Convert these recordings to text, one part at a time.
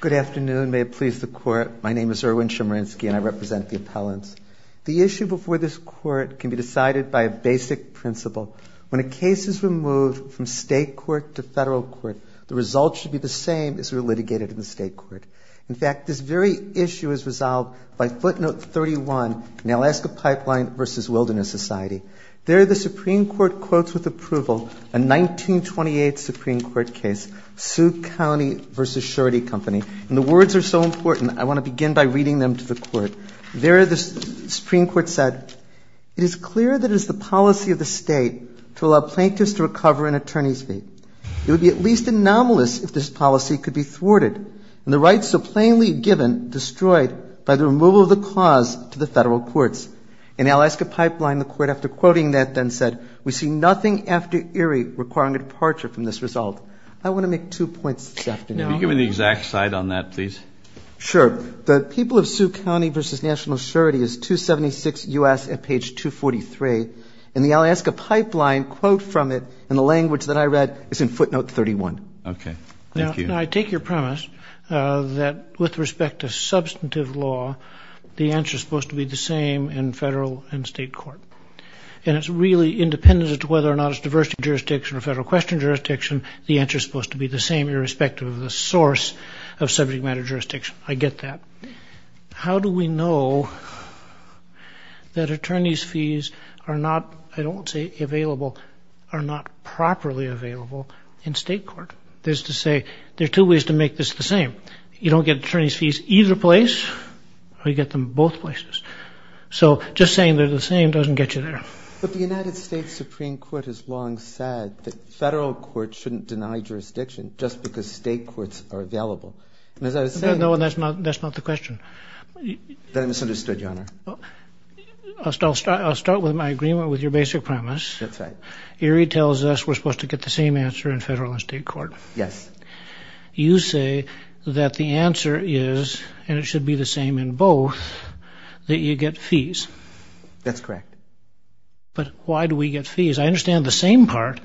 Good afternoon. May it please the Court, my name is Erwin Chemerinsky and I represent the appellants. The issue before this Court can be decided by a basic principle. When a case is removed from state court to federal court, the results should be the same as were litigated in the state court. In fact, this very issue is resolved by footnote 31 in Alaska Pipeline v. Wilderness Society. There the Supreme Court quotes with approval a 1928 Supreme Court case, Sioux County v. Shorty Company, and the words are so important I want to begin by reading them to the Court. There the Supreme Court said, it is clear that it is the policy of the state to allow plaintiffs to recover an attorney's fee. It would be at least anomalous if this policy could be thwarted and the rights so plainly given destroyed by the removal of the clause to the federal courts. In Alaska Pipeline, the Court after quoting that then said, we see nothing after Erie requiring a departure from this result. I want to make two points this afternoon. Can you give me the exact cite on that please? Sure. The people of Sioux County v. National Shorty is 276 U.S. at page 243, and the Alaska Pipeline quote from it in the language that I read is in footnote 31. Okay. Thank you. Now I take your premise that with respect to substantive law, the answer is supposed to be the same in federal and state court. And it's really independent as to whether or not it's diversity of jurisdiction or federal question jurisdiction, the answer is supposed to be the same irrespective of the source of subject matter jurisdiction. I get that. How do we know that attorney's fees are not, I don't want to say available, are not properly available in state court? There's to say there are two ways to make this the same. You don't get attorney's fees either place or you get them both places. So just saying they're the same doesn't get you there. But the United States Supreme Court has long said that federal courts shouldn't deny jurisdiction just because state courts are available. And as I was saying... No, that's not the question. Then I misunderstood, Your Honor. I'll start with my agreement with your basic premise. That's right. Erie tells us we're supposed to get the same answer in federal and state court. Yes. You say that the answer is, and it should be the same in both, that you get fees. That's correct. But why do we get fees? I understand the same part,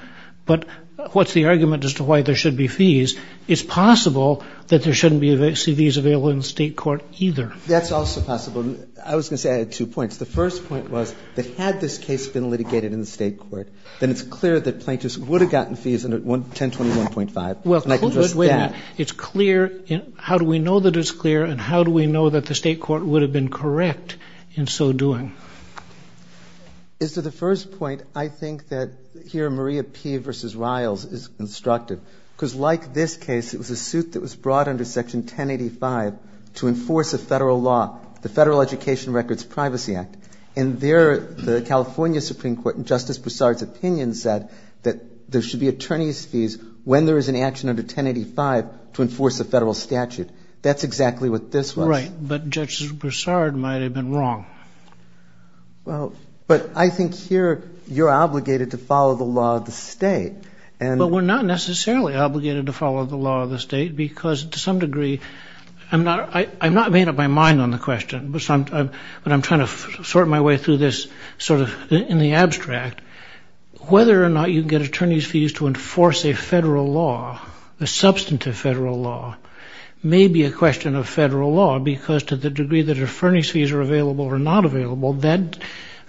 but what's the argument as to why there should be fees? It's possible that there shouldn't be CVs available in state court either. That's also possible. I was going to say I had two points. The first point was that had this case been litigated in the state court, then it's clear that plaintiffs would have gotten fees under 1021.5. Well, it's clear. How do we know that it's clear and how do we know that the state court would have been correct in so doing? As to the first point, I think that here Maria P. v. Riles is constructive. Because like this case, it was a suit that was brought under Section 1085 to enforce a federal law, the Federal Education Records Privacy Act. And there, the California Supreme Court, in Justice Broussard's opinion, said that there should be attorney's fees when there is an But Justice Broussard might have been wrong. But I think here you're obligated to follow the law of the state. But we're not necessarily obligated to follow the law of the state because to some degree, I'm not making up my mind on the question, but I'm trying to sort my way through this sort of in the abstract. Whether or not you get attorney's fees to the degree that attorney's fees are available or not available, that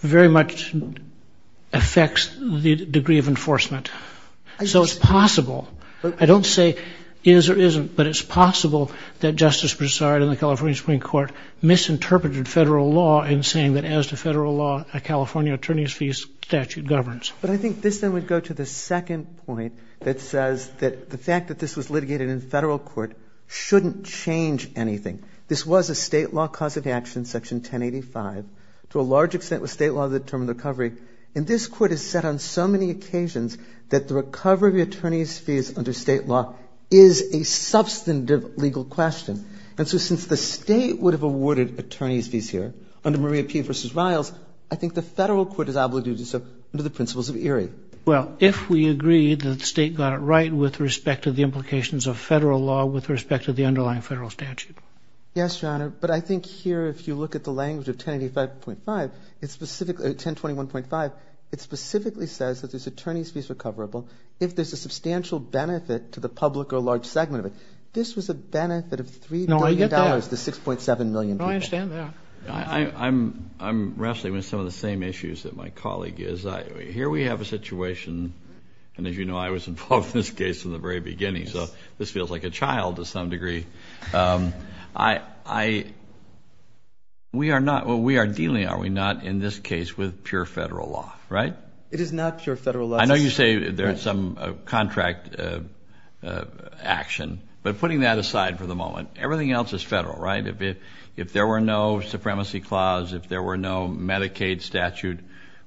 very much affects the degree of enforcement. So it's possible. I don't say is or isn't, but it's possible that Justice Broussard and the California Supreme Court misinterpreted federal law in saying that as to federal law, a California attorney's fees statute governs. But I think this then would go to the second point that says that the fact that this was a state law cause of action, Section 1085, to a large extent was state law that determined the recovery. And this Court has said on so many occasions that the recovery of attorney's fees under state law is a substantive legal question. And so since the state would have awarded attorney's fees here under Maria P. v. Riles, I think the federal court is obligated to do so under the principles of ERIE. Well, if we agree that the state got it right with respect to the implications of federal law with respect to the underlying federal statute. Yes, Your Honor. But I think here, if you look at the language of 1085.5, it's specifically 1021.5, it specifically says that this attorney's fees are coverable if there's a substantial benefit to the public or a large segment of it. This was a benefit of $3 billion to 6.7 million people. No, I understand that. I'm wrestling with some of the same issues that my colleague is. Here we have a situation, and as you know, I was involved in this case from the very beginning, so this feels like a child to some degree. We are dealing, are we not, in this case with pure federal law, right? It is not pure federal law. I know you say there is some contract action, but putting that aside for the moment, everything else is federal, right? If there were no supremacy clause, if there were no Medicaid statute,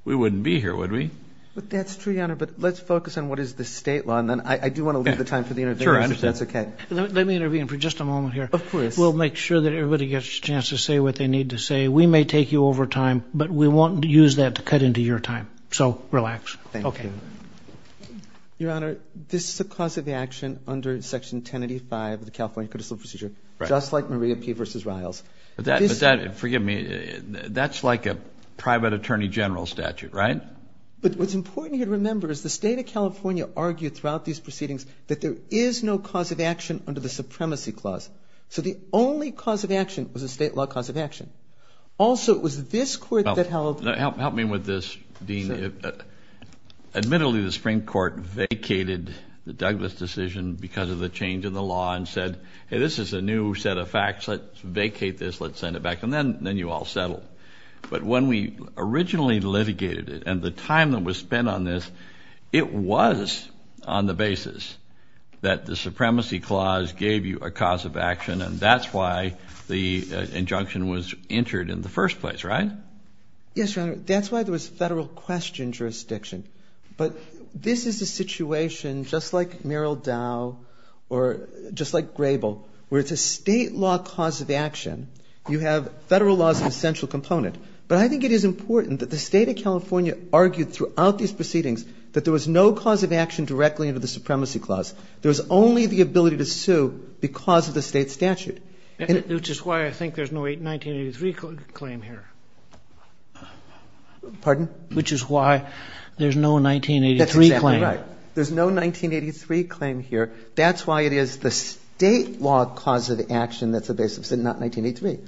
we wouldn't be here, would we? That's true, Your Honor, but let's focus on what is the state law, and then I do want to leave the time for the interviewers, if that's okay. Sure, I understand. Let me intervene for just a moment here. Of course. We'll make sure that everybody gets a chance to say what they need to say. We may take you over time, but we won't use that to cut into your time, so relax. Thank you. Okay. Your Honor, this is the cause of the action under Section 1085 of the California Critical Procedure, just like Maria P. v. Riles. But that, forgive me, that's like a private attorney general statute, right? But what's important here to remember is the state of California argued throughout these proceedings that there is no cause of action under the supremacy clause. So the only cause of action was a state law cause of action. Also, it was this court that held... Help me with this, Dean. Admittedly, the Supreme Court vacated the Douglas decision because of the change in the law and said, hey, this is a new set of facts, let's vacate this, let's send it back, and then you all settle. But when we originally litigated it and the time that was spent on this, it was on the basis that the supremacy clause gave you a cause of action, and that's why the injunction was entered in the first place, right? Yes, Your Honor. That's why there was federal question jurisdiction. But this is a situation just like Merrill Dow or just like Grable, where it's a state law cause of action. You have federal laws as an essential component. But I think it is important that the state of California argued throughout these proceedings that there was no cause of action directly under the supremacy clause. There was only the ability to sue because of the state statute. Which is why I think there's no 1983 claim here. Pardon? Which is why there's no 1983 claim. That's exactly right. There's no 1983 claim here. That's why it is the state law cause of action that's the basis of not 1983.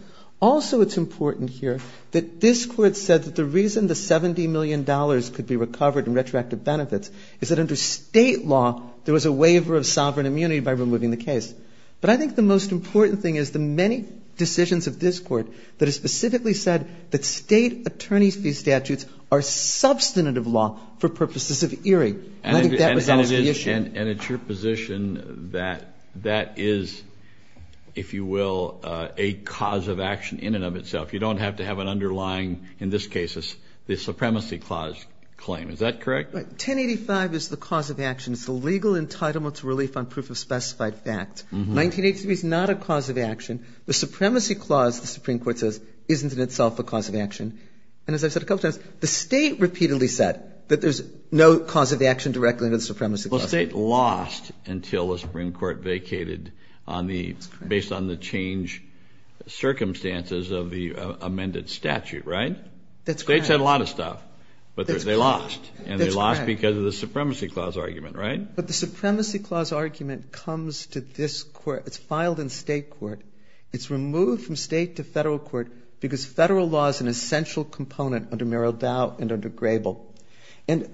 Also, it's important here that this Court said that the reason the $70 million could be recovered in retroactive benefits is that under state law there was a waiver of sovereign immunity by removing the case. But I think the most important thing is the many decisions of this Court that have specifically said that state attorney fee statutes are substantive law for purposes of ERIE. And I think that resolves the issue. And it's your position that that is, if you will, a cause of action in and of itself. You don't have to have an underlying, in this case, a supremacy clause claim. Is that correct? 1085 is the cause of action. It's the legal entitlement to relief on proof of specified fact. 1983 is not a cause of action. The supremacy clause, the Supreme Court says, isn't in itself a cause of action. And as I've said a couple times, the state repeatedly said that there's no cause of action directly under the supremacy clause. Well, state lost until the Supreme Court vacated on the, based on the change circumstances of the amended statute, right? That's correct. States had a lot of stuff, but they lost. And they lost because of the supremacy clause argument, right? But the supremacy clause argument comes to this Court. It's filed in state court. It's removed from state to federal court because federal law is an essential component under state law. And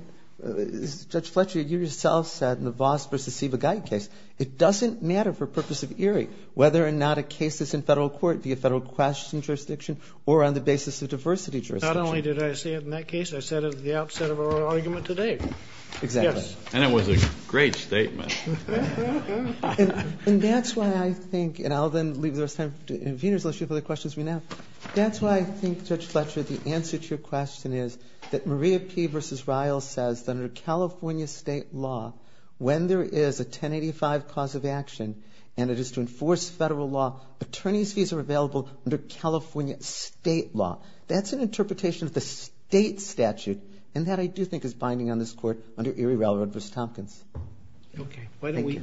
that's why I think, and I'll then leave the rest of the time for the questions from now, that's why I think, Judge Fletcher, the answer to your question is that Maria P. v. Ryle says that under California state law, when there is a 1085 cause of action and it is to enforce federal law, attorney's fees are available under California state law. That's an interpretation of the state statute. And that I do think is binding on this Court under Erie Railroad v. Tompkins. Okay. Why don't we,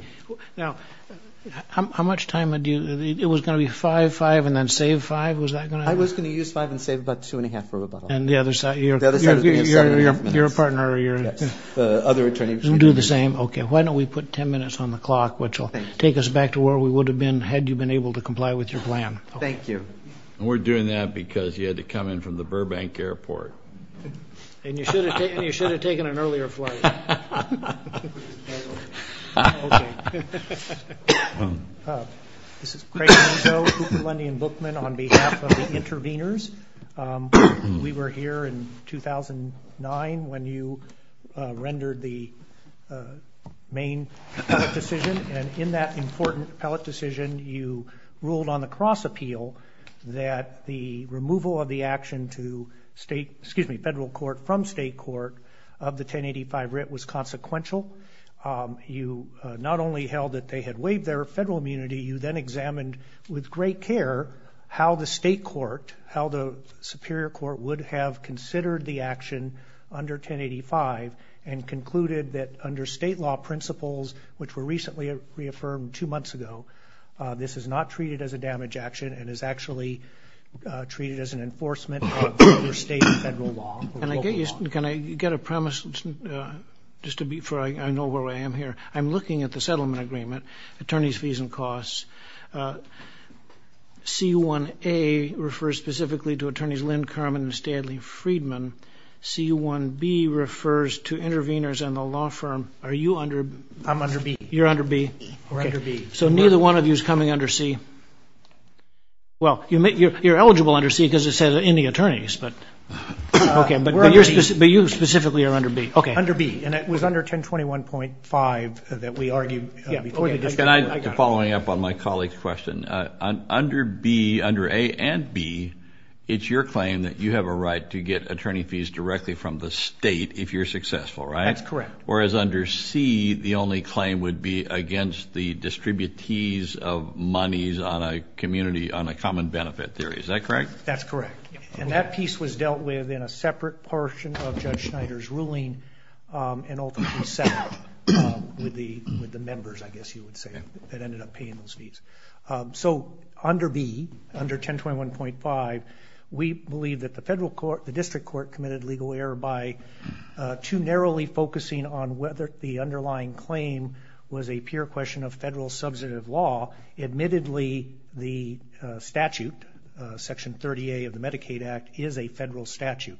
now, how much time did you, it was going to be five, five, and then save five? Was that going to happen? I was going to use five and save about two and a half for rebuttal. And the other side, you're a partner, or you're... Yes. The other attorney... We'll do the same. Okay. Why don't we put 10 minutes on the clock, which will take us back to where we would have been had you been able to comply with your plan. Thank you. And we're doing that because you had to come in from the Burbank Airport. And you should have taken an earlier flight. Okay. This is Craig Langeau, Cooper, Lundy, and Bookman on behalf of the interveners. We were here in 2009 when you rendered the main appellate decision. And in that important appellate decision, you ruled on the cross appeal that the removal of the action to state, excuse me, federal court from state court of the 1085 writ was consequential. You not only held that they had waived their federal immunity, you then took great care how the state court, how the superior court would have considered the action under 1085 and concluded that under state law principles, which were recently reaffirmed two months ago, this is not treated as a damage action and is actually treated as an enforcement under state and federal law. Can I get you... Can I get a premise just to be... I know where I am here. I'm looking at the settlement agreement, attorney's fees and costs. C1A refers specifically to attorneys Lynn Carmen and Stanley Friedman. C1B refers to interveners and the law firm. Are you under... I'm under B. You're under B. We're under B. So neither one of you is coming under C. Well, you're eligible under C because it says in the attorneys, but... But you specifically are under B. Under B, and it was under 1021.5 that we argued... Following up on my colleague's question, under B, under A and B, it's your claim that you have a right to get attorney fees directly from the state if you're successful, right? That's correct. Whereas under C, the only claim would be against the distributees of monies on a community, on a common benefit theory. Is that correct? That's correct. And that piece was dealt with in a separate portion of Judge Schneider's ruling and ultimately settled with the members, I guess you would say, that ended up paying those fees. So under B, under 1021.5, we believe that the federal court, the district court, committed legal error by too narrowly focusing on whether the underlying claim was a pure question of Medicaid Act is a federal statute.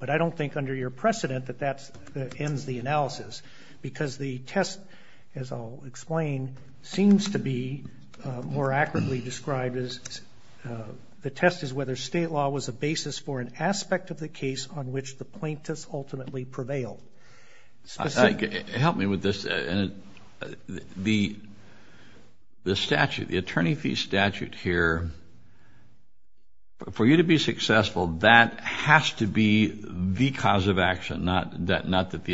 But I don't think under your precedent that that ends the analysis because the test, as I'll explain, seems to be more accurately described as the test is whether state law was a basis for an aspect of the case on which the plaintiffs ultimately prevailed. Help me with this. The statute, the attorney fee statute here, for you to be successful, that has to be the cause of action, not that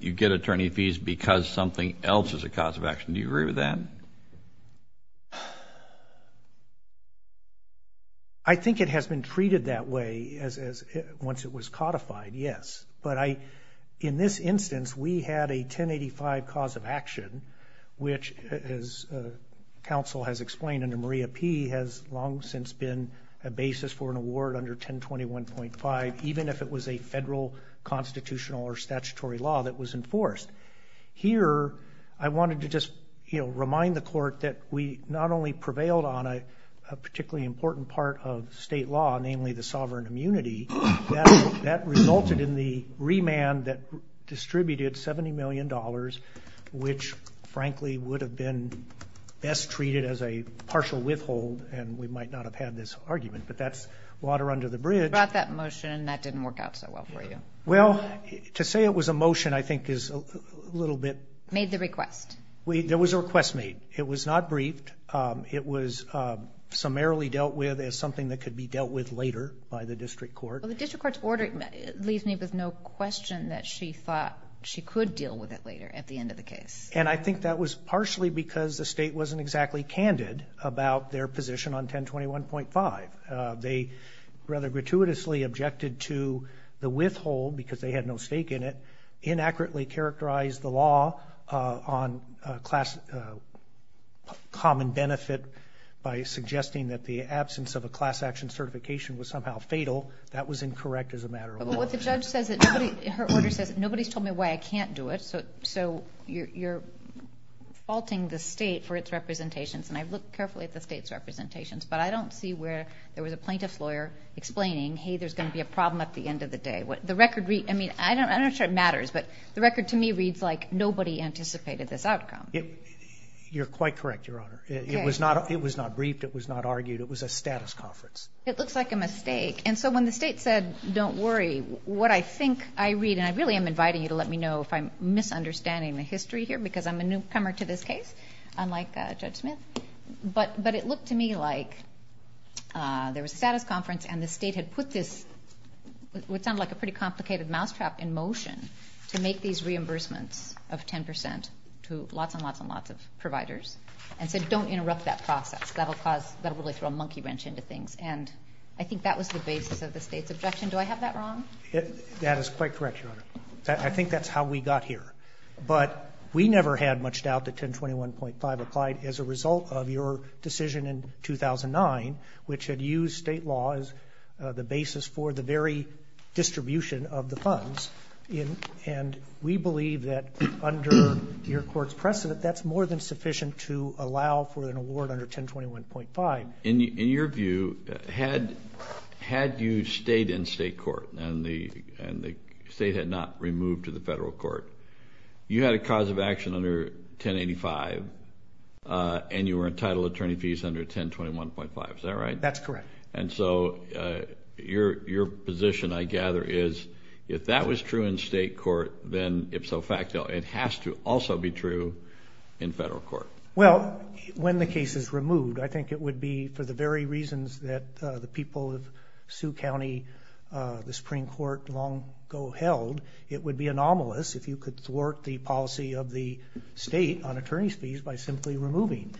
you get attorney fees because something else is a cause of action. Do you agree with that? I think it has been treated that way once it was codified, yes. But in this instance, we had a 1085 cause of action, which, as counsel has explained under Maria P., has long since been a basis for an award under 1021.5, even if it was a federal constitutional or statutory law that was enforced. Here, I wanted to just remind the court that we not only prevailed on a particularly important part of state law, namely the sovereign immunity, that resulted in the remand that distributed $70 million, which frankly would have been best treated as a partial withhold, and we might not have had this argument. But that's water under the bridge. You brought that motion, and that didn't work out so well for you. Well, to say it was a motion I think is a little bit... Made the request. There was a request made. It was not briefed. It was summarily dealt with as something that could be dealt with later by the district court. Well, the district court's order leaves me with no question that she thought she could deal with it later at the end of the case. And I think that was partially because the state wasn't exactly candid about their position on 1021.5. They rather gratuitously objected to the withhold because they had no stake in it, inaccurately characterized the law on common benefit by suggesting that the absence of a class action certification was somehow fatal. That was incorrect as a matter of law. But what the judge says, her order says, nobody's told me why I can't do it, so you're faulting the state for its representations. And I've looked carefully at the state's representations, but I don't see where there was a plaintiff's lawyer explaining, hey, there's going to be a problem at the end of the day. I'm not sure it matters, but the record to me reads like nobody anticipated this outcome. You're quite correct, Your Honor. It was not briefed. It was not argued. It was a status conference. It looks like a mistake. And so when the state said, don't worry, what I think I read, and really I'm inviting you to let me know if I'm misunderstanding the history here because I'm a newcomer to this case, unlike Judge Smith, but it looked to me like there was a status conference and the state had put this what sounded like a pretty complicated mousetrap in motion to make these reimbursements of 10% to lots and lots and lots of providers and said don't interrupt that process. That will really throw a monkey wrench into things. And I think that was the basis of the state's objection. Do I have that wrong? That is quite correct, Your Honor. I think that's how we got here. But we never had much doubt that 1021.5 applied as a result of your decision in 2009, which had used state law as the basis for the very distribution of the funds. And we believe that under your court's precedent that's more than sufficient to allow for an award under 1021.5. In your view, had you stayed in state court and the state had not removed to the federal court, you had a cause of action under 1085 and you were entitled to attorney fees under 1021.5. Is that right? That's correct. And so your position, I gather, is if that was true in state court, then ipso facto it has to also be true in federal court. Well, when the case is removed, I think it would be for the very reasons that the people of Sioux County, the Supreme Court long ago held, it would be anomalous if you could thwart the policy of the state on attorney's fees by simply removing.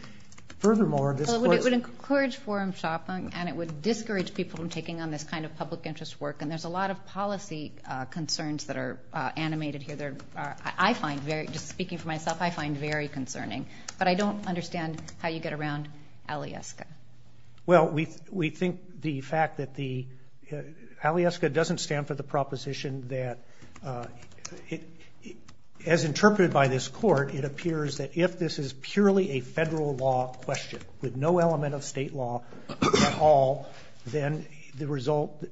Furthermore, this court's- Well, it would encourage forum shopping and it would discourage people from taking on this kind of public interest work. And there's a lot of policy concerns that are animated here. I find very, just speaking for myself, I find very concerning. But I don't understand how you get around ALIESCA. Well, we think the fact that the- ALIESCA doesn't stand for the proposition that, as interpreted by this court, it appears that if this is purely a federal law question with no element of state law at all, then the result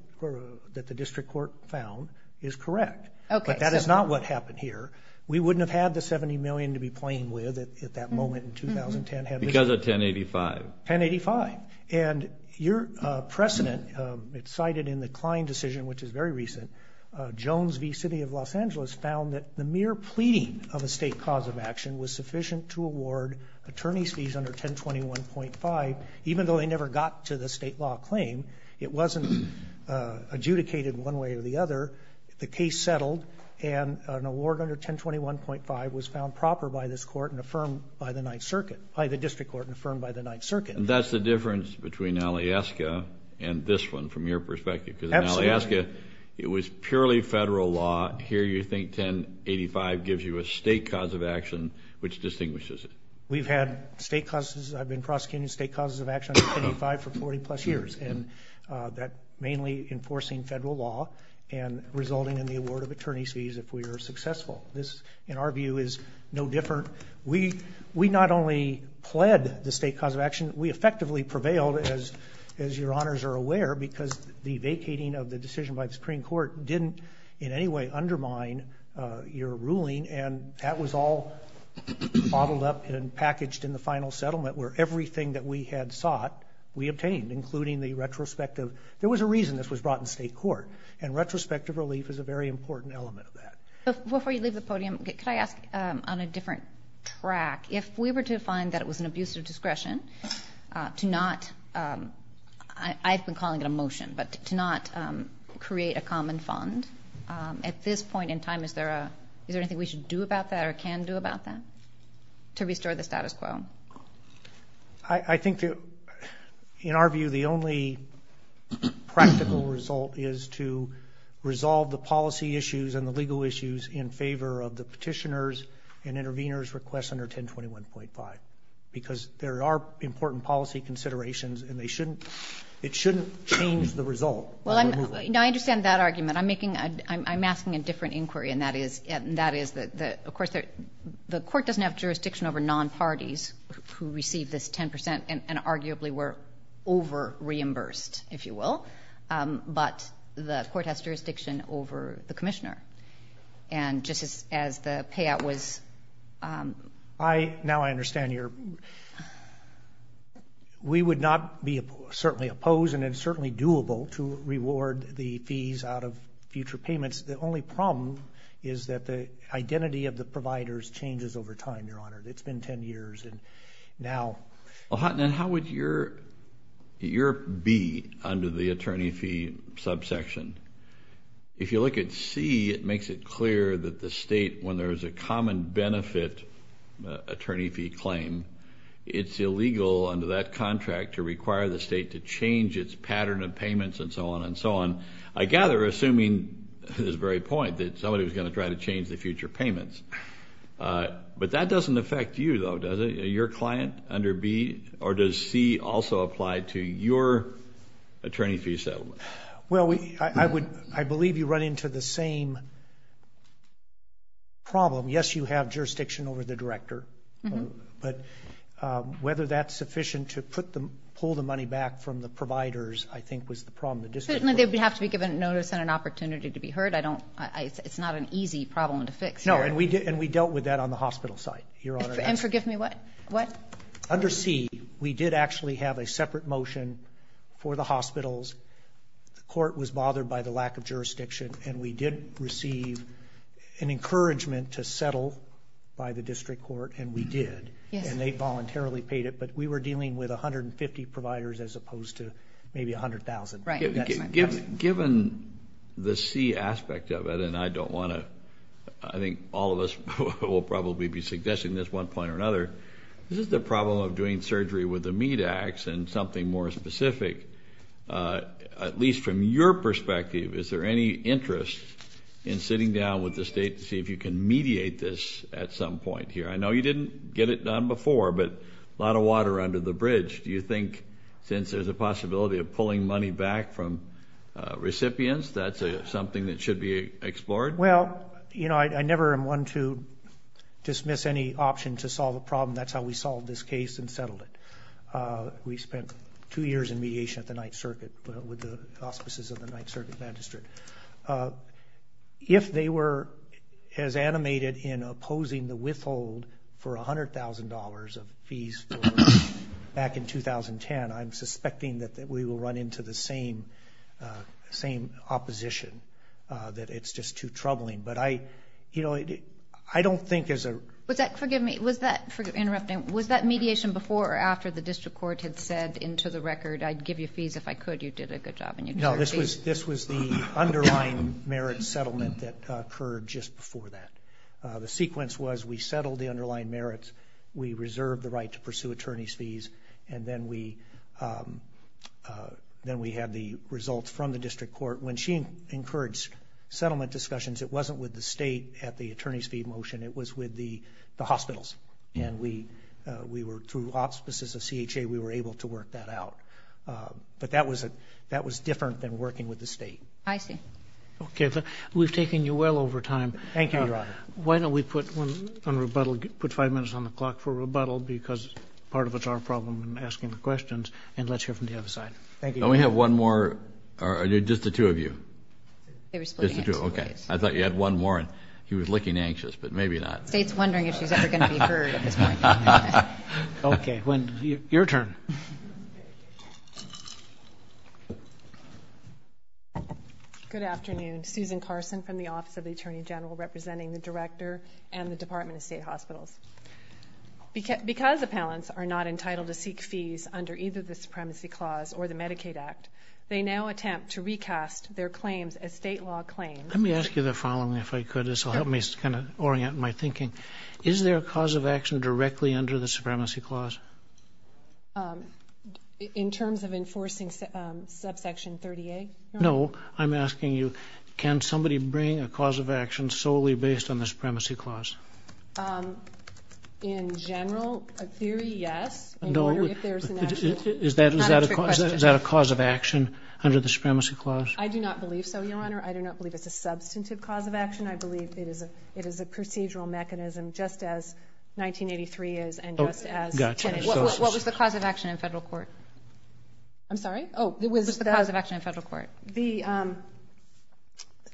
that the district court found is correct. But that is not what happened here. We wouldn't have had the $70 million to be playing with at that moment in 2010. Because of 1085. 1085. And your precedent, it's cited in the Klein decision, which is very recent, Jones v. City of Los Angeles found that the mere pleading of a state cause of action was sufficient to award attorney's fees under 1021.5. Even though they never got to the state law claim, it wasn't adjudicated one way or the other. The case settled, and an award under 1021.5 was found proper by this court and affirmed by the Ninth Circuit, by the district court and affirmed by the Ninth Circuit. And that's the difference between ALIESCA and this one from your perspective. Because in ALIESCA, it was purely federal law. Here you think 1085 gives you a state cause of action which distinguishes it. We've had state causes. I've been prosecuting state causes of action under 1085 for 40-plus years. And that's mainly enforcing federal law and resulting in the award of attorney's fees if we are successful. This, in our view, is no different. We not only pled the state cause of action, we effectively prevailed, as your honors are aware, because the vacating of the decision by the Supreme Court didn't in any way undermine your ruling. And that was all bottled up and packaged in the final settlement where everything that we had sought we obtained, including the retrospective. There was a reason this was brought in state court, and retrospective relief is a very important element of that. Before you leave the podium, could I ask on a different track, if we were to find that it was an abuse of discretion to not, I've been calling it a motion, but to not create a common fund, at this point in time, is there anything we should do about that or can do about that to restore the status quo? I think that, in our view, the only practical result is to resolve the policy issues and the legal issues in favor of the petitioner's and intervener's request under 1021.5, because there are important policy considerations and they shouldn't, it shouldn't change the result. Well, I understand that argument. I'm making, I'm asking a different inquiry, and that is that, of course, the court doesn't have jurisdiction over non-parties who received this 10%, and arguably were over-reimbursed, if you will, but the court has jurisdiction over the commissioner. And just as the payout was... Now I understand your... We would not be certainly opposed, and it's certainly doable to reward the fees out of future payments. The only problem is that the identity of the providers changes over time, Your Honor. It's been 10 years, and now... Well, then how would your be under the attorney fee subsection? If you look at C, it makes it clear that the state, when there is a common benefit attorney fee claim, it's illegal under that contract to require the state to change its pattern of payments and so on and so on. I gather, assuming this very point, that somebody was going to try to change the future payments. But that doesn't affect you, though, does it? Are you a client under B, or does C also apply to your attorney fee settlement? Well, I believe you run into the same problem. Yes, you have jurisdiction over the director, but whether that's sufficient to pull the money back from the providers, I think, was the problem. Certainly, they would have to be given notice and an opportunity to be heard. It's not an easy problem to fix here. No, and we dealt with that on the hospital side, Your Honor. And forgive me, what? Under C, we did actually have a separate motion for the hospitals. The court was bothered by the lack of jurisdiction, and we did receive an encouragement to settle by the district court, and we did. And they voluntarily paid it, but we were dealing with 150 providers as opposed to maybe 100,000. Right. Given the C aspect of it, and I don't want to, I think all of us will probably be suggesting this one point or another, this is the problem of doing surgery with a meat ax and something more specific. At least from your perspective, is there any interest in sitting down with the state to see if you can mediate this at some point here? I know you didn't get it done before, but a lot of water under the bridge. Do you think since there's a possibility of pulling money back from recipients, that's something that should be explored? Well, you know, I never am one to dismiss any option to solve a problem. That's how we solved this case and settled it. We spent two years in mediation at the Ninth Circuit with the auspices of the Ninth Circuit Magistrate. If they were as animated in opposing the withhold for $100,000 of fees back in 2010, I'm suspecting that we will run into the same opposition, that it's just too troubling. But I, you know, I don't think as a... Was that, forgive me, was that, interrupting, was that mediation before or after the district court had said into the record, I'd give you fees if I could, you did a good job and you deserve fees? This was the underlying merit settlement that occurred just before that. The sequence was we settled the underlying merits, we reserved the right to pursue attorney's fees, and then we had the results from the district court. When she encouraged settlement discussions, it wasn't with the state at the attorney's fee motion, it was with the hospitals, and we were, through auspices of CHA, we were able to work that out. But that was different than working with the state. I see. Okay. We've taken you well over time. Thank you, Your Honor. Why don't we put one on rebuttal, put five minutes on the clock for rebuttal, because part of it's our problem in asking the questions, and let's hear from the other side. Thank you, Your Honor. Don't we have one more, or just the two of you? Just the two, okay. I thought you had one more, and he was looking anxious, but maybe not. The state's wondering if she's ever going to be heard at this point. Okay. Your turn. Good afternoon. Susan Carson from the Office of the Attorney General, representing the Director and the Department of State Hospitals. Because appellants are not entitled to seek fees under either the Supremacy Clause or the Medicaid Act, they now attempt to recast their claims as state law claims. Let me ask you the following, if I could. This will help me kind of orient my thinking. Is there a cause of action directly under the Supremacy Clause? In terms of enforcing subsection 38? No. I'm asking you, can somebody bring a cause of action solely based on the Supremacy Clause? In general, a theory, yes. Is that a cause of action under the Supremacy Clause? I do not believe so, Your Honor. I do not believe it's a substantive cause of action. I believe it is a procedural mechanism just as 1983 is and just as 10 is. What was the cause of action in federal court? I'm sorry? What was the cause of action in federal court? The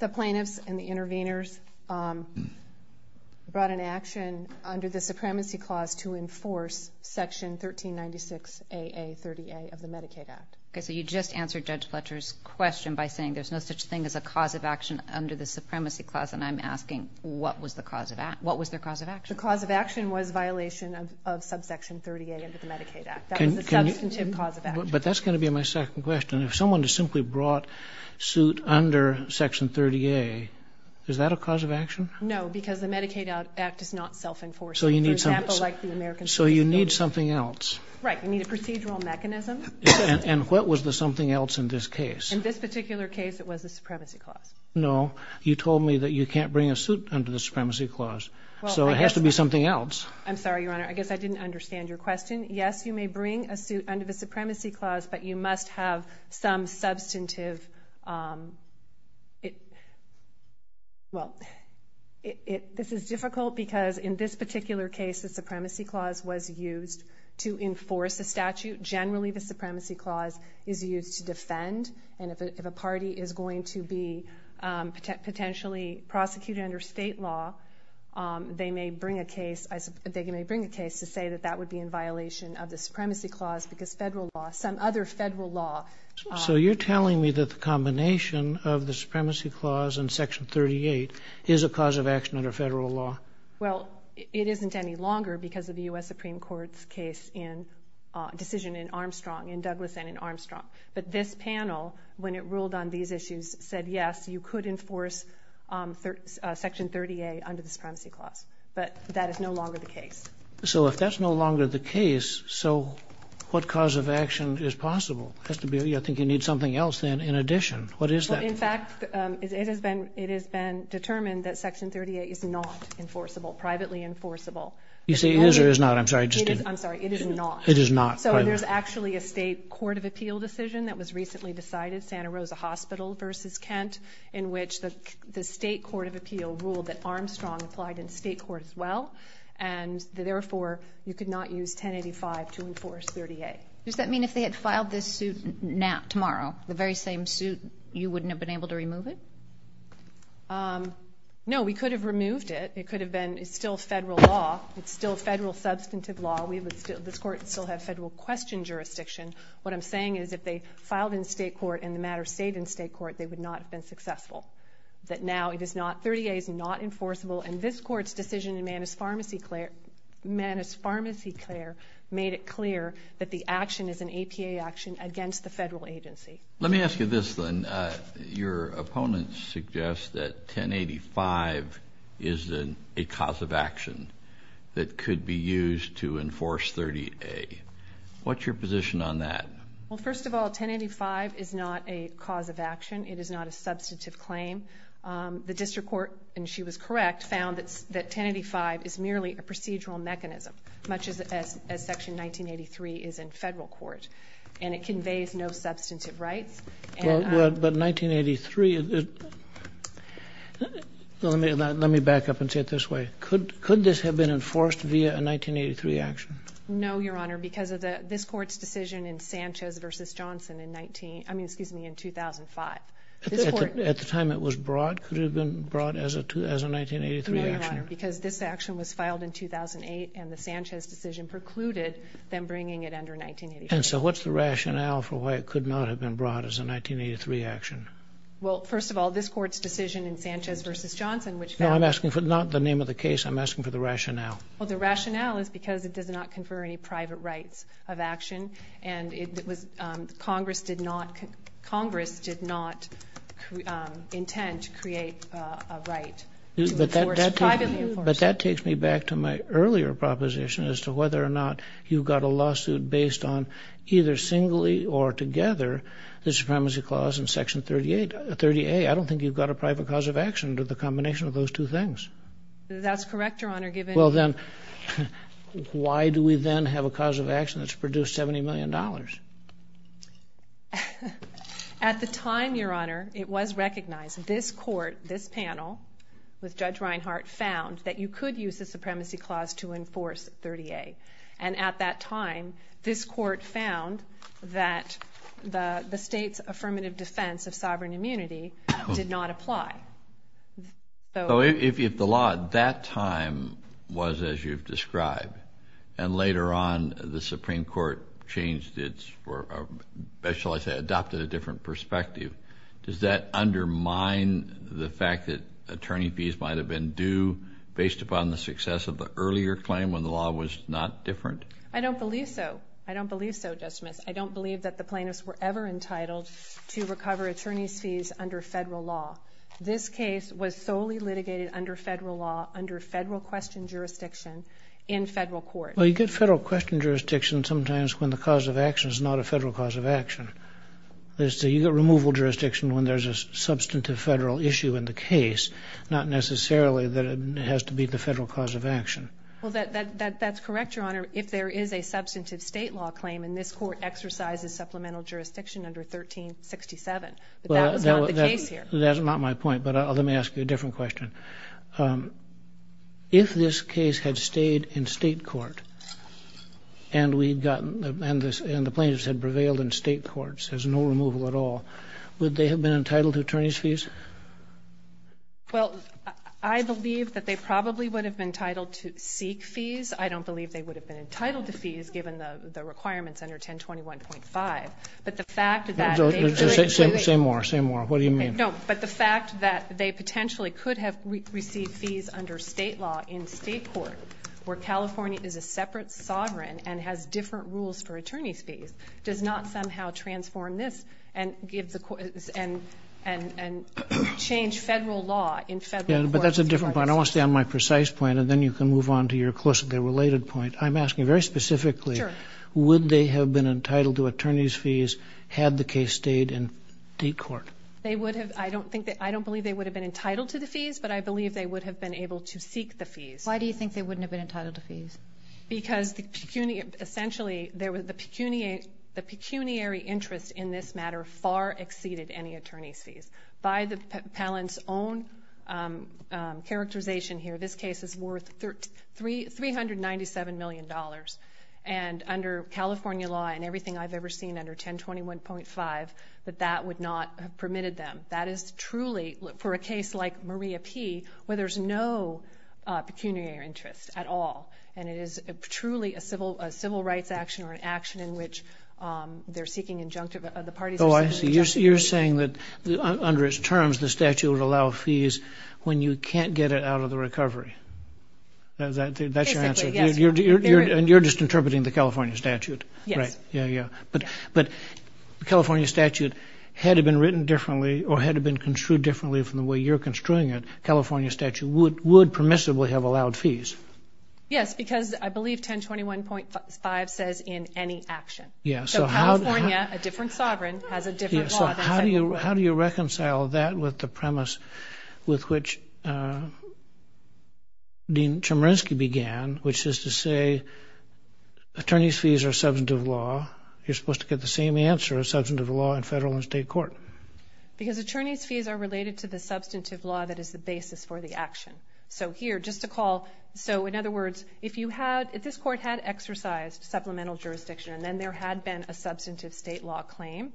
plaintiffs and the intervenors brought an action under the Supremacy Clause to enforce Section 1396AA30A of the Medicaid Act. Okay. So you just answered Judge Fletcher's question by saying there's no such thing as a cause of action under the Supremacy Clause, and I'm asking what was their cause of action? The cause of action was violation of subsection 38 of the Medicaid Act. That was the substantive cause of action. But that's going to be my second question. If someone just simply brought suit under Section 30A, is that a cause of action? No, because the Medicaid Act is not self-enforcing. So you need something else. Right. You need a procedural mechanism. And what was the something else in this case? In this particular case, it was the Supremacy Clause. No. You told me that you can't bring a suit under the Supremacy Clause. So it has to be something else. I'm sorry, Your Honor. I guess I didn't understand your question. Yes, you may bring a suit under the Supremacy Clause, but you must have some substantive... This is difficult because in this particular case, the Supremacy Clause was used to enforce a statute. Generally, the Supremacy Clause is used to defend, and if a party is going to be potentially prosecuted under state law, they may bring a case to say that that would be in violation of the Supremacy Clause because some other federal law... So you're telling me that the combination of the Supremacy Clause and Section 38 is a cause of action under federal law? Well, it isn't any longer because of the U.S. Supreme Court's decision in Armstrong, in Douglas and in Armstrong. But this panel, when it ruled on these issues, said, yes, you could enforce Section 38 under the Supremacy Clause, but that is no longer the case. So if that's no longer the case, so what cause of action is possible? I think you need something else then in addition. What is that? In fact, it has been determined that Section 38 is not enforceable, privately enforceable. You say it is or it is not? I'm sorry, I just didn't. I'm sorry, it is not. It is not. So there's actually a state court of appeal decision that was recently decided, Santa Rosa Hospital v. Kent, in which the state court of appeal ruled that Armstrong applied in state court as well, and therefore you could not use 1085 to enforce 38. Does that mean if they had filed this suit tomorrow, the very same suit, you wouldn't have been able to remove it? No, we could have removed it. It could have been. It's still federal law. It's still federal substantive law. This court would still have federal question jurisdiction. What I'm saying is if they filed in state court and the matter stayed in state court, they would not have been successful. That now it is not. 38 is not enforceable, and this court's decision in Manos Pharmacy Clare made it clear that the action is an APA action against the federal agency. Let me ask you this then. Your opponents suggest that 1085 is a cause of action that could be used to enforce 38. What's your position on that? Well, first of all, 1085 is not a cause of action. It is not a substantive claim. The district court, and she was correct, found that 1085 is merely a procedural mechanism, much as Section 1983 is in federal court, and it conveys no substantive rights. But 1983, let me back up and say it this way. Could this have been enforced via a 1983 action? No, Your Honor, because of this court's decision in Sanchez v. Johnson in 19, I mean, excuse me, in 2005. At the time it was brought, could it have been brought as a 1983 action? No, Your Honor, because this action was filed in 2008, and the Sanchez decision precluded them bringing it under 1983. And so what's the rationale for why it could not have been brought as a 1983 action? Well, first of all, this court's decision in Sanchez v. Johnson, which found that No, I'm asking for not the name of the case. I'm asking for the rationale. Well, the rationale is because it does not confer any private rights of action, and Congress did not intend to create a right to enforce privately. But that takes me back to my earlier proposition as to whether or not you've got a lawsuit based on either singly or together the Supremacy Clause in Section 38. I don't think you've got a private cause of action to the combination of those two things. That's correct, Your Honor, given the that's produced $70 million. At the time, Your Honor, it was recognized. This court, this panel, with Judge Reinhart, found that you could use the Supremacy Clause to enforce 30A. And at that time, this court found that the state's affirmative defense of sovereign immunity did not apply. So if the law at that time was as you've described, and later on the Supreme Court changed its, or shall I say adopted a different perspective, does that undermine the fact that attorney fees might have been due based upon the success of the earlier claim when the law was not different? I don't believe so. I don't believe so, Justice Smith. I don't believe that the plaintiffs were ever entitled to recover attorney's fees under federal law. This case was solely litigated under federal law, under federal question jurisdiction in federal court. Well, you get federal question jurisdiction sometimes when the cause of action is not a federal cause of action. You get removal jurisdiction when there's a substantive federal issue in the case, not necessarily that it has to be the federal cause of action. Well, that's correct, Your Honor, if there is a substantive state law claim, and this court exercises supplemental jurisdiction under 1367. But that was not the case here. That's not my point, but let me ask you a different question. If this case had stayed in state court, and the plaintiffs had prevailed in state courts, there's no removal at all, would they have been entitled to attorney's fees? Well, I believe that they probably would have been entitled to seek fees. I don't believe they would have been entitled to fees given the requirements under 1021.5. Say more. Say more. What do you mean? No, but the fact that they potentially could have received fees under state law in state court where California is a separate sovereign and has different rules for attorney's fees does not somehow transform this and change federal law in federal courts. Yeah, but that's a different point. I want to stay on my precise point, and then you can move on to your closely related point. I'm asking very specifically, would they have been entitled to attorney's fees had the case stayed in state court? I don't believe they would have been entitled to the fees, but I believe they would have been able to seek the fees. Why do you think they wouldn't have been entitled to fees? Because essentially the pecuniary interest in this matter far exceeded any attorney's fees. By the Palin's own characterization here, this case is worth $397 million, and under California law and everything I've ever seen under 1021.5, that that would not have permitted them. That is truly, for a case like Maria P., where there's no pecuniary interest at all, and it is truly a civil rights action or an action in which they're seeking injunctive, the parties are seeking injunctive. Oh, I see. You're saying that under its terms, the statute would allow fees when you can't get it out of the recovery. That's your answer? Basically, yes. And you're just interpreting the California statute? Yes. Right. Yeah, yeah. But California statute, had it been written differently or had it been construed differently from the way you're construing it, California statute would permissibly have allowed fees. Yes, because I believe 1021.5 says in any action. So California, a different sovereign, has a different law than 1021. How do you reconcile that with the premise with which Dean Chemerinsky began, which is to say attorneys' fees are substantive law. You're supposed to get the same answer as substantive law in federal and state court. Because attorneys' fees are related to the substantive law that is the basis for the action. So here, just to call, so in other words, if you had, if this court had exercised supplemental jurisdiction and then there had been a substantive state law claim,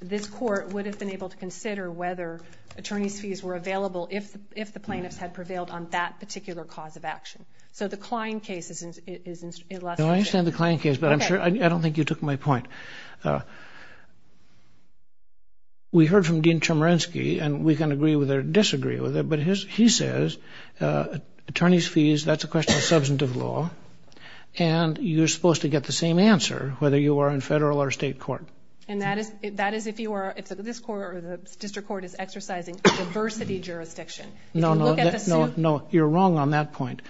this court would have been able to consider whether attorneys' fees were available if the plaintiffs had prevailed on that particular cause of action. So the Klein case is less. I understand the Klein case, but I'm sure, I don't think you took my point. We heard from Dean Chemerinsky, and we can agree with it or disagree with it, but he says attorneys' fees, that's a question of substantive law, and you're supposed to get the same answer whether you are in federal or state court. And that is if you are, if this court or the district court is exercising diversity jurisdiction. No, no, you're wrong on that point.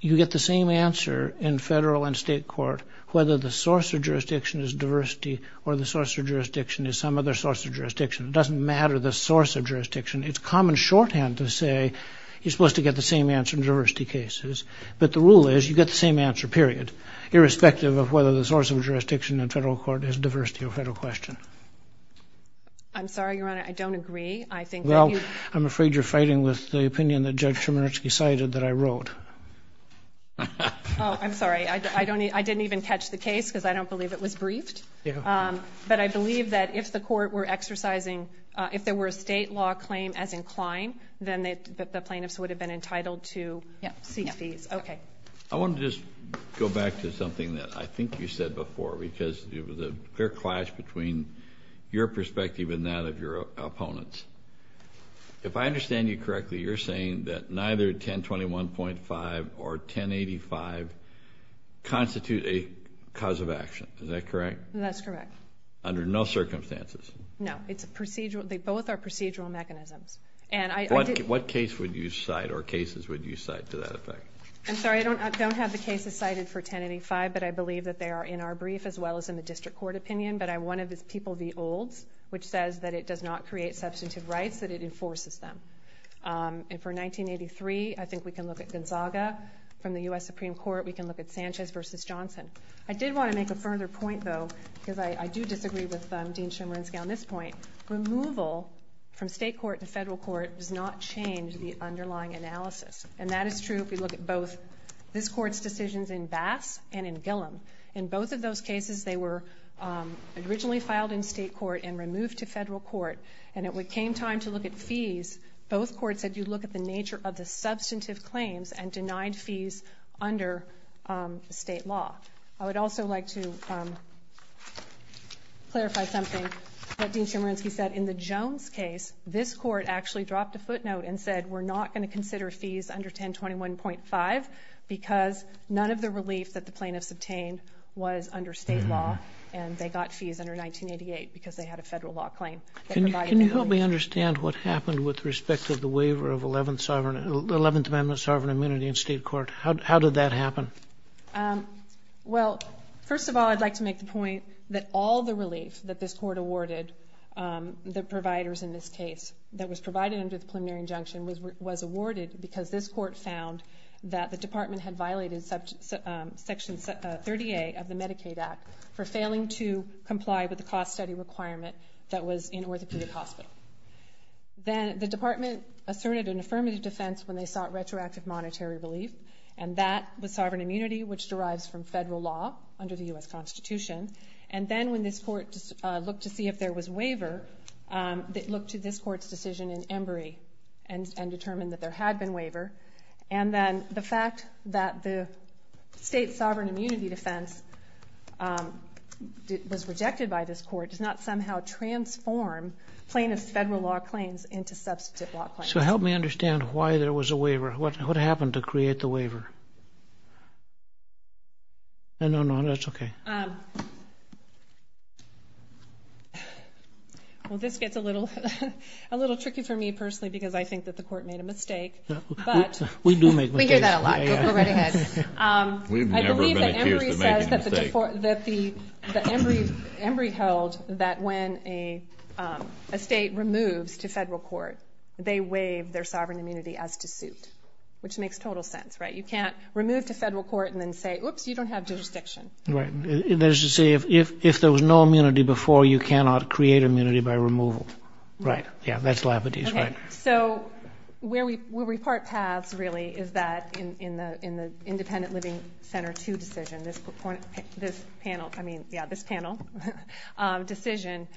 You get the same answer in federal and state court whether the source of jurisdiction is diversity or the source of jurisdiction is some other source of jurisdiction. It doesn't matter the source of jurisdiction. It's common shorthand to say you're supposed to get the same answer in diversity cases, but the rule is you get the same answer, period, irrespective of whether the source of jurisdiction in federal court is diversity or federal question. I'm sorry, Your Honor, I don't agree. Well, I'm afraid you're fighting with the opinion that Judge Chemerinsky cited that I wrote. Oh, I'm sorry. I didn't even catch the case because I don't believe it was briefed. But I believe that if the court were exercising, if there were a state law claim as inclined, then the plaintiffs would have been entitled to seek fees. Okay. I want to just go back to something that I think you said before because there was a clear clash between your perspective and that of your opponents. If I understand you correctly, you're saying that neither 1021.5 or 1085 constitute a cause of action. Is that correct? That's correct. Under no circumstances? No. It's a procedural. They both are procedural mechanisms. What case would you cite or cases would you cite to that effect? I'm sorry. I don't have the cases cited for 1085, but I believe that they are in our brief as well as in the district court opinion. But one of the people, the olds, which says that it does not create substantive rights, that it enforces them. And for 1983, I think we can look at Gonzaga. From the U.S. Supreme Court, we can look at Sanchez v. Johnson. I did want to make a further point, though, because I do disagree with Dean Chemerinsky on this point. Removal from state court to federal court does not change the underlying analysis. And that is true if we look at both this court's decisions in Bass and in Gillom. In both of those cases, they were originally filed in state court and removed to federal court. And it came time to look at fees. Both courts said you look at the nature of the substantive claims and denied fees under state law. I would also like to clarify something that Dean Chemerinsky said. In the Jones case, this court actually dropped a footnote and said we're not going to consider fees under 1021.5 because none of the relief that the plaintiffs obtained was under state law, and they got fees under 1988 because they had a federal law claim. Can you help me understand what happened with respect to the waiver of 11th Amendment sovereign immunity in state court? How did that happen? Well, first of all, I'd like to make the point that all the relief that this court awarded, the providers in this case that was provided under the preliminary injunction, was awarded because this court found that the department had violated Section 30A of the Medicaid Act for failing to comply with the cost study requirement that was in Orthopedic Hospital. Then the department asserted an affirmative defense when they sought retroactive monetary relief, and that was sovereign immunity, which derives from federal law under the U.S. Constitution. And then when this court looked to see if there was waiver, it looked to this court's decision in Embry and determined that there had been waiver. And then the fact that the state sovereign immunity defense was rejected by this court does not somehow transform plaintiff's federal law claims into substantive law claims. So help me understand why there was a waiver. What happened to create the waiver? No, no, that's okay. Well, this gets a little tricky for me personally because I think that the court made a mistake. We do make mistakes. We hear that a lot. Go right ahead. I believe that Embry held that when a state removes to federal court, they waive their sovereign immunity as to suit, which makes total sense, right? You can't remove to federal court and then say, oops, you don't have jurisdiction. There's a saying, if there was no immunity before, you cannot create immunity by removal. Right, yeah, that's Labadez, right. So where we repart paths, really, is that in the Independent Living Center 2 decision, this panel decision,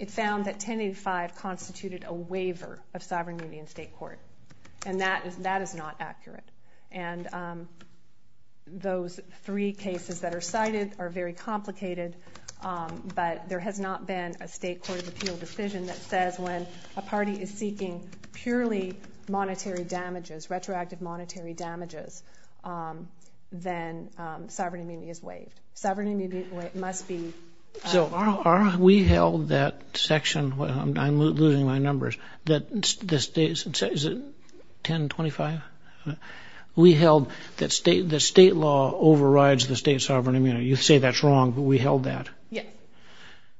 it found that 1085 constituted a waiver of sovereign immunity in state court, and that is not accurate. And those three cases that are cited are very complicated, but there has not been a state court of appeal decision that says when a party is seeking purely monetary damages, retroactive monetary damages, then sovereign immunity is waived. Sovereign immunity must be. So we held that section. I'm losing my numbers. Is it 1025? We held that state law overrides the state sovereign immunity. You say that's wrong, but we held that.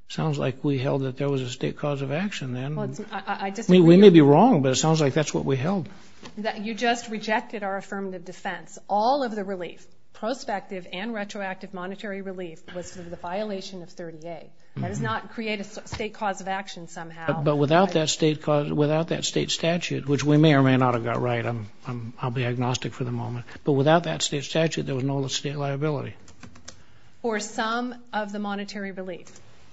Sounds like we held that there was a state cause of action then. We may be wrong, but it sounds like that's what we held. You just rejected our affirmative defense. All of the relief, prospective and retroactive monetary relief, was for the violation of 30A. That does not create a state cause of action somehow. But without that state statute, which we may or may not have got right, I'll be agnostic for the moment, but without that state statute, there was no state liability. Or some of the monetary relief.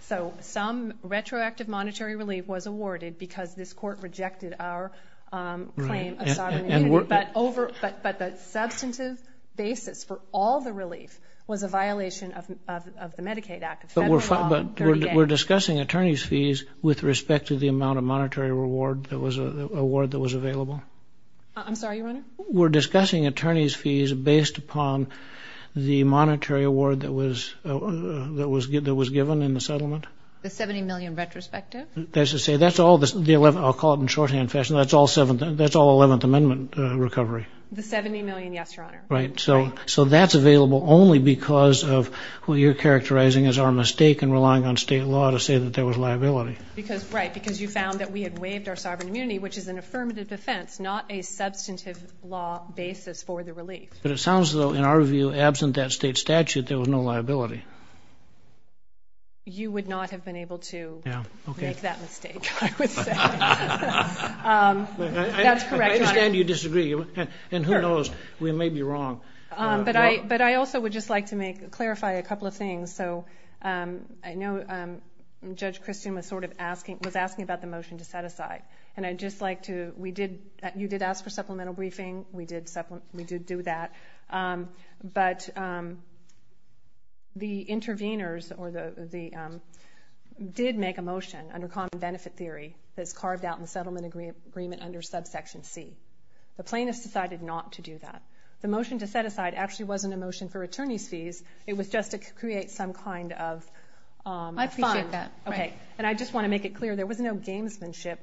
So some retroactive monetary relief was awarded because this court rejected our claim of sovereign immunity. But the substantive basis for all the relief was a violation of the Medicaid Act. But we're discussing attorney's fees with respect to the amount of monetary reward that was available. I'm sorry, Your Honor? We're discussing attorney's fees based upon the monetary reward that was given in the settlement. The $70 million retrospective? I'll call it in shorthand fashion, that's all 11th Amendment recovery. The $70 million, yes, Your Honor. Right. So that's available only because of what you're characterizing as our mistake in relying on state law to say that there was liability. Right, because you found that we had waived our sovereign immunity, which is an affirmative defense, not a substantive law basis for the relief. But it sounds, though, in our view, absent that state statute, there was no liability. You would not have been able to make that mistake, I would say. That's correct, Your Honor. I understand you disagree. And who knows, we may be wrong. But I also would just like to clarify a couple of things. So I know Judge Christian was asking about the motion to set aside. And you did ask for supplemental briefing. We did do that. But the intervenors did make a motion under common benefit theory that's carved out in the settlement agreement under subsection C. The plaintiffs decided not to do that. The motion to set aside actually wasn't a motion for attorney's fees. It was just to create some kind of fund. I appreciate that. Okay. And I just want to make it clear, there was no gamesmanship.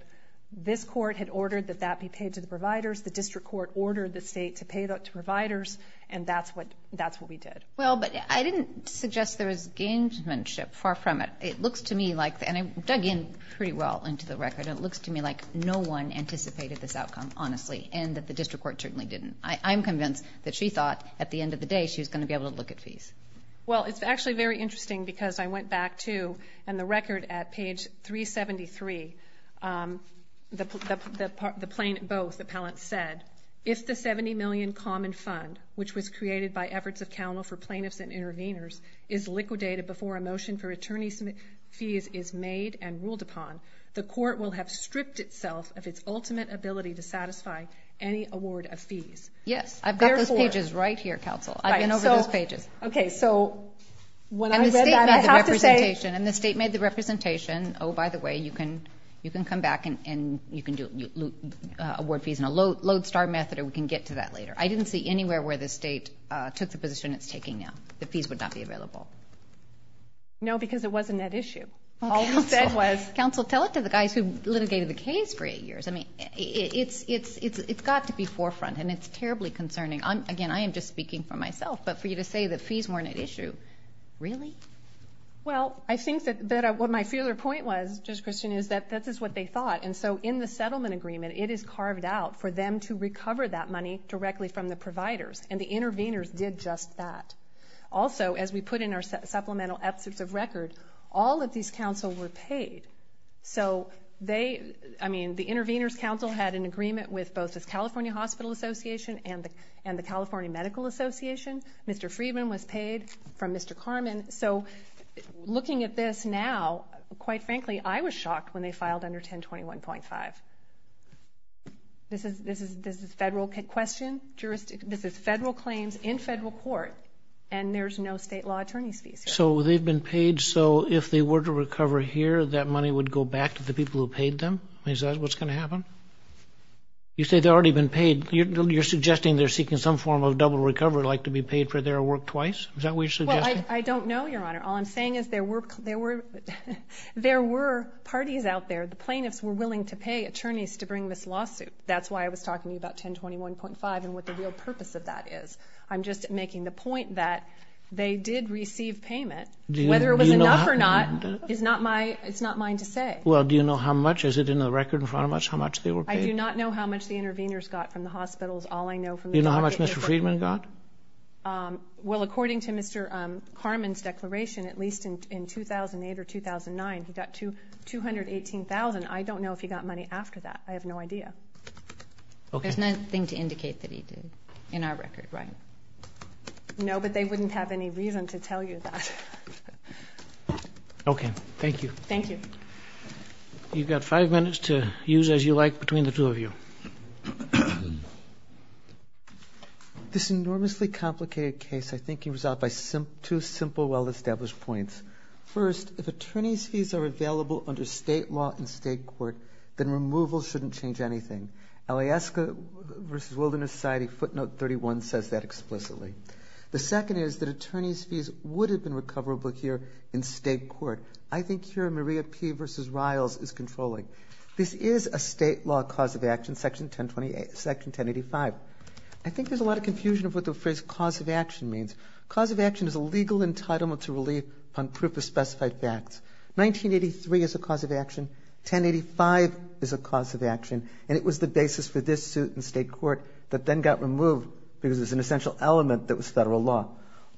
This court had ordered that that be paid to the providers. The district court ordered the state to pay that to providers. And that's what we did. Well, but I didn't suggest there was gamesmanship. Far from it. It looks to me like, and I dug in pretty well into the record. It looks to me like no one anticipated this outcome, honestly, and that the district court certainly didn't. I'm convinced that she thought, at the end of the day, she was going to be able to look at fees. Well, it's actually very interesting because I went back to, in the record at page 373, both appellants said, if the $70 million common fund, which was created by efforts of counsel for plaintiffs and intervenors, is liquidated before a motion for attorney's fees is made and ruled upon, the court will have stripped itself of its ultimate ability to satisfy any award of fees. Yes. I've got those pages right here, counsel. I've been over those pages. Okay. So when I read that, I have to say. And the state made the representation. Oh, by the way, you can come back and you can award fees in a lodestar method or we can get to that later. I didn't see anywhere where the state took the position it's taking now that fees would not be available. No, because it wasn't that issue. Counsel, tell it to the guys who litigated the case for eight years. I mean, it's got to be forefront, and it's terribly concerning. Again, I am just speaking for myself, but for you to say that fees weren't at issue, really? Well, I think that what my feeler point was, Judge Christian, is that this is what they thought. And so in the settlement agreement, it is carved out for them to recover that money directly from the providers, and the intervenors did just that. Also, as we put in our supplemental absence of record, all of these counsel were paid. So they, I mean, the intervenors' counsel had an agreement with both the California Hospital Association and the California Medical Association. Mr. Friedman was paid from Mr. Carman. So looking at this now, quite frankly, I was shocked when they filed under 1021.5. This is federal question. This is federal claims in federal court, and there's no state law attorney's fees here. So they've been paid, so if they were to recover here, that money would go back to the people who paid them? Is that what's going to happen? You say they've already been paid. You're suggesting they're seeking some form of double recovery, like to be paid for their work twice? Is that what you're suggesting? Well, I don't know, Your Honor. All I'm saying is there were parties out there. The plaintiffs were willing to pay attorneys to bring this lawsuit. That's why I was talking to you about 1021.5 and what the real purpose of that is. I'm just making the point that they did receive payment. Whether it was enough or not is not mine to say. Well, do you know how much? Is it in the record in front of us how much they were paid? I do not know how much the intervenors got from the hospitals. All I know from the records is that they were paid. Do you know how much Mr. Friedman got? Well, according to Mr. Carman's declaration, at least in 2008 or 2009, he got $218,000. I don't know if he got money after that. I have no idea. There's nothing to indicate that he did in our record, right? No, but they wouldn't have any reason to tell you that. Okay. Thank you. Thank you. You've got five minutes to use as you like between the two of you. This enormously complicated case I think can be resolved by two simple, well-established points. First, if attorney's fees are available under state law in state court, then removal shouldn't change anything. LAESCA v. Wilderness Society footnote 31 says that explicitly. The second is that attorney's fees would have been recoverable here in state court. I think here Maria P. v. Riles is controlling. This is a state law cause of action. Section 1085. I think there's a lot of confusion of what the phrase cause of action means. Cause of action is a legal entitlement to relief on proof of specified facts. 1983 is a cause of action. 1085 is a cause of action. And it was the basis for this suit in state court that then got removed because it was an essential element that was federal law.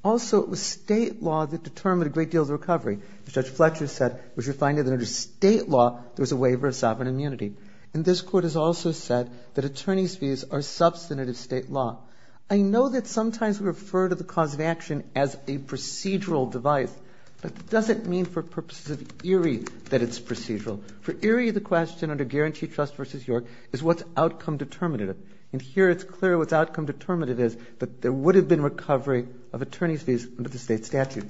Also, it was state law that determined a great deal of the recovery. As Judge Fletcher said, it was refined into state law. There was a waiver of sovereign immunity. And this Court has also said that attorney's fees are substantive state law. I know that sometimes we refer to the cause of action as a procedural device. But it doesn't mean for purposes of ERIE that it's procedural. For ERIE, the question under Guarantee Trust v. York is what's outcome determinative. And here it's clear what's outcome determinative is that there would have been recovery of attorney's fees under the state statute.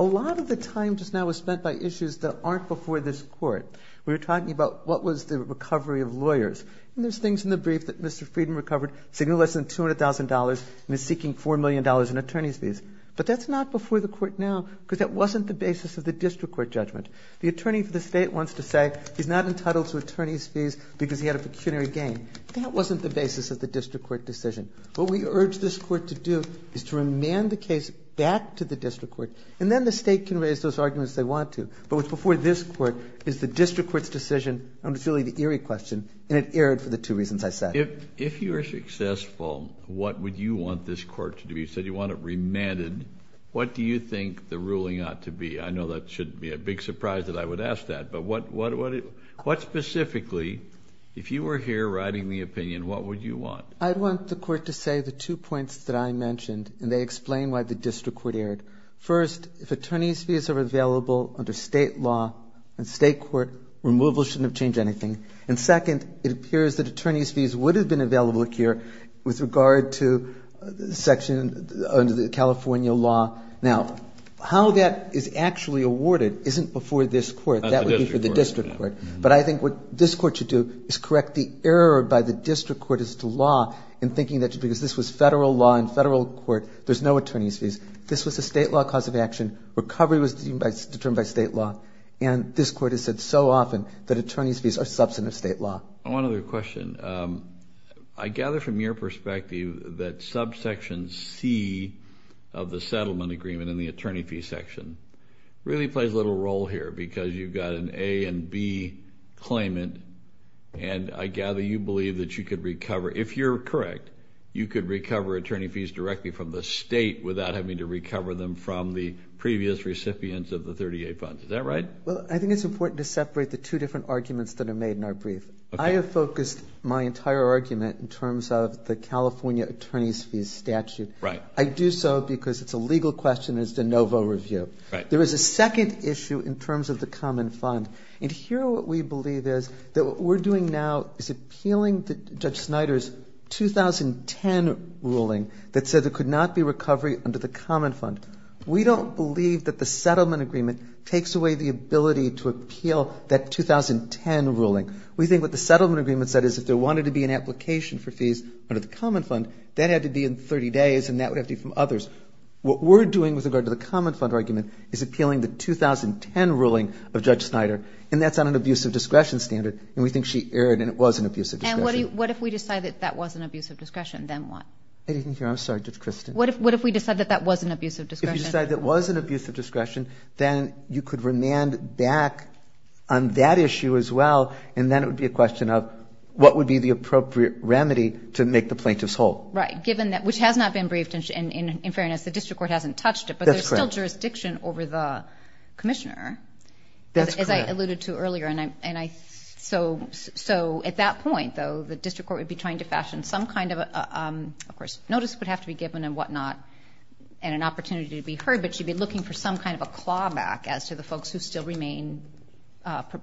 A lot of the time just now was spent by issues that aren't before this Court. We were talking about what was the recovery of lawyers. And there's things in the brief that Mr. Friedman recovered saying less than $200,000 and is seeking $4 million in attorney's fees. But that's not before the Court now because that wasn't the basis of the district court judgment. The attorney for the state wants to say he's not entitled to attorney's fees because he had a pecuniary gain. That wasn't the basis of the district court decision. What we urge this Court to do is to remand the case back to the district court. And then the state can raise those arguments they want to. But what's before this Court is the district court's decision under the ERIE question, and it erred for the two reasons I said. If you were successful, what would you want this Court to do? You said you want it remanded. What do you think the ruling ought to be? I know that shouldn't be a big surprise that I would ask that. But what specifically, if you were here writing the opinion, what would you want? I'd want the Court to say the two points that I mentioned, and they explain why the district court erred. First, if attorney's fees are available under state law and state court, removal shouldn't have changed anything. And second, it appears that attorney's fees would have been available here with regard to section under the California law. Now, how that is actually awarded isn't before this Court. That would be for the district court. But I think what this Court should do is correct the error by the district court as to law in thinking that because this was Federal law and Federal court, there's no attorney's fees. This was a state law cause of action. Recovery was determined by state law. And this Court has said so often that attorney's fees are substantive state law. One other question. I gather from your perspective that subsection C of the settlement agreement in the attorney fee section really plays a little role here because you've got an A and B claimant, and I gather you believe that you could recover. If you're correct, you could recover attorney fees directly from the state without having to recover them from the previous recipients of the 38 funds. Is that right? Well, I think it's important to separate the two different arguments that are made in our brief. Okay. I have focused my entire argument in terms of the California attorney's fees statute. Right. I do so because it's a legal question. It's the NoVo review. Right. There is a second issue in terms of the common fund. And here what we believe is that what we're doing now is appealing Judge Snyder's 2010 ruling that said there could not be recovery under the common fund. We don't believe that the settlement agreement takes away the ability to appeal that 2010 ruling. We think what the settlement agreement said is if there wanted to be an application for fees under the common fund, that had to be in 30 days and that would have to be from others. What we're doing with regard to the common fund argument is appealing the 2010 ruling of Judge Snyder, and that's on an abuse of discretion standard, and we think she erred and it was an abuse of discretion. And what if we decide that that was an abuse of discretion? Then what? I didn't hear. I'm sorry, Judge Christin. What if we decide that that was an abuse of discretion? If you decide that it was an abuse of discretion, then you could remand back on that issue as well, and then it would be a question of what would be the appropriate remedy to make the plaintiffs whole. Right, given that, which has not been briefed, and in fairness, the district court hasn't touched it, but there's still jurisdiction over the commissioner, as I alluded to earlier. And so at that point, though, the district court would be trying to fashion some kind of, of course, notice would have to be given and whatnot and an opportunity to be heard, but she'd be looking for some kind of a clawback as to the folks who still remain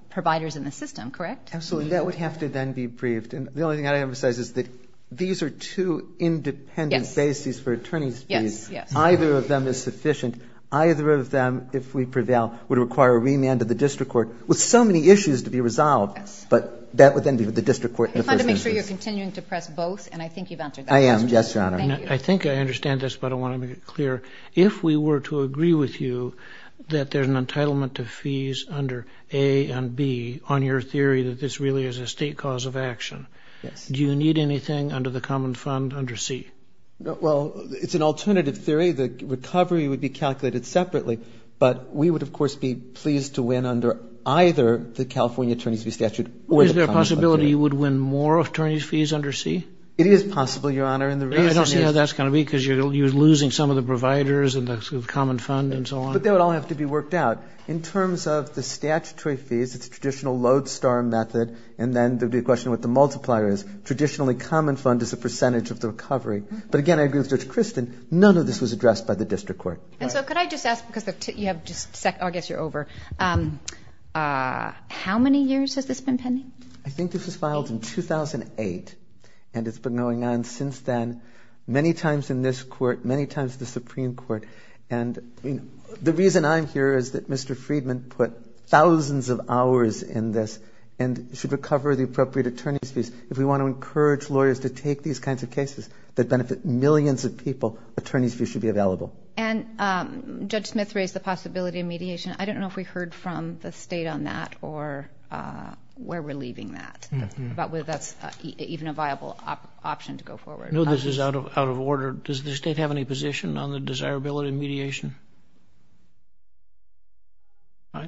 providers in the system, correct? Absolutely. That would have to then be briefed. And the only thing I'd emphasize is that these are two independent bases for attorney's fees. Yes, yes. Either of them is sufficient. Either of them, if we prevail, would require a remand to the district court with so many issues to be resolved. But that would then be with the district court in the first instance. I'm trying to make sure you're continuing to press both, and I think you've answered that question. I am, yes, Your Honor. Thank you. I think I understand this, but I want to make it clear. If we were to agree with you that there's an entitlement to fees under A and B on your theory that this really is a state cause of action, do you need anything under the common fund under C? Well, it's an alternative theory. The recovery would be calculated separately, but we would, of course, be pleased to win under either the California attorney's fee statute or the common fund. Is there a possibility you would win more attorney's fees under C? It is possible, Your Honor. I don't see how that's going to be, because you're losing some of the providers and the common fund and so on. But they would all have to be worked out. In terms of the statutory fees, it's a traditional lodestar method, and then there would be a question of what the multiplier is. Traditionally, common fund is a percentage of the recovery. But, again, I agree with Judge Christin. None of this was addressed by the district court. And so could I just ask, because you have just a second? I guess you're over. How many years has this been pending? I think this was filed in 2008, and it's been going on since then many times in this court, many times in the Supreme Court. And the reason I'm here is that Mr. Friedman put thousands of hours in this and should recover the appropriate attorney's fees. If we want to encourage lawyers to take these kinds of cases that benefit millions of people, attorney's fees should be available. And Judge Smith raised the possibility of mediation. I don't know if we heard from the State on that or where we're leaving that, but whether that's even a viable option to go forward. No, this is out of order. Does the State have any position on the desirability of mediation?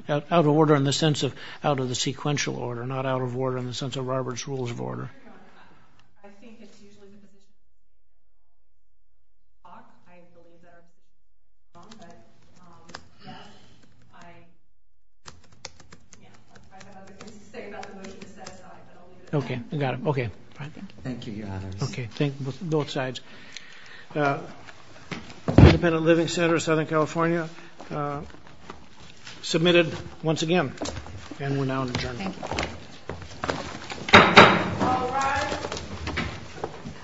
Out of order in the sense of out of the sequential order, not out of order in the sense of Robert's Rules of Order. I think it's usually the district court. I believe that's wrong, but I have other things to say about the motion. Okay, got it. Thank you, Your Honors. Both sides. Independent Living Center of Southern California submitted once again, and we're now adjourned. Thank you.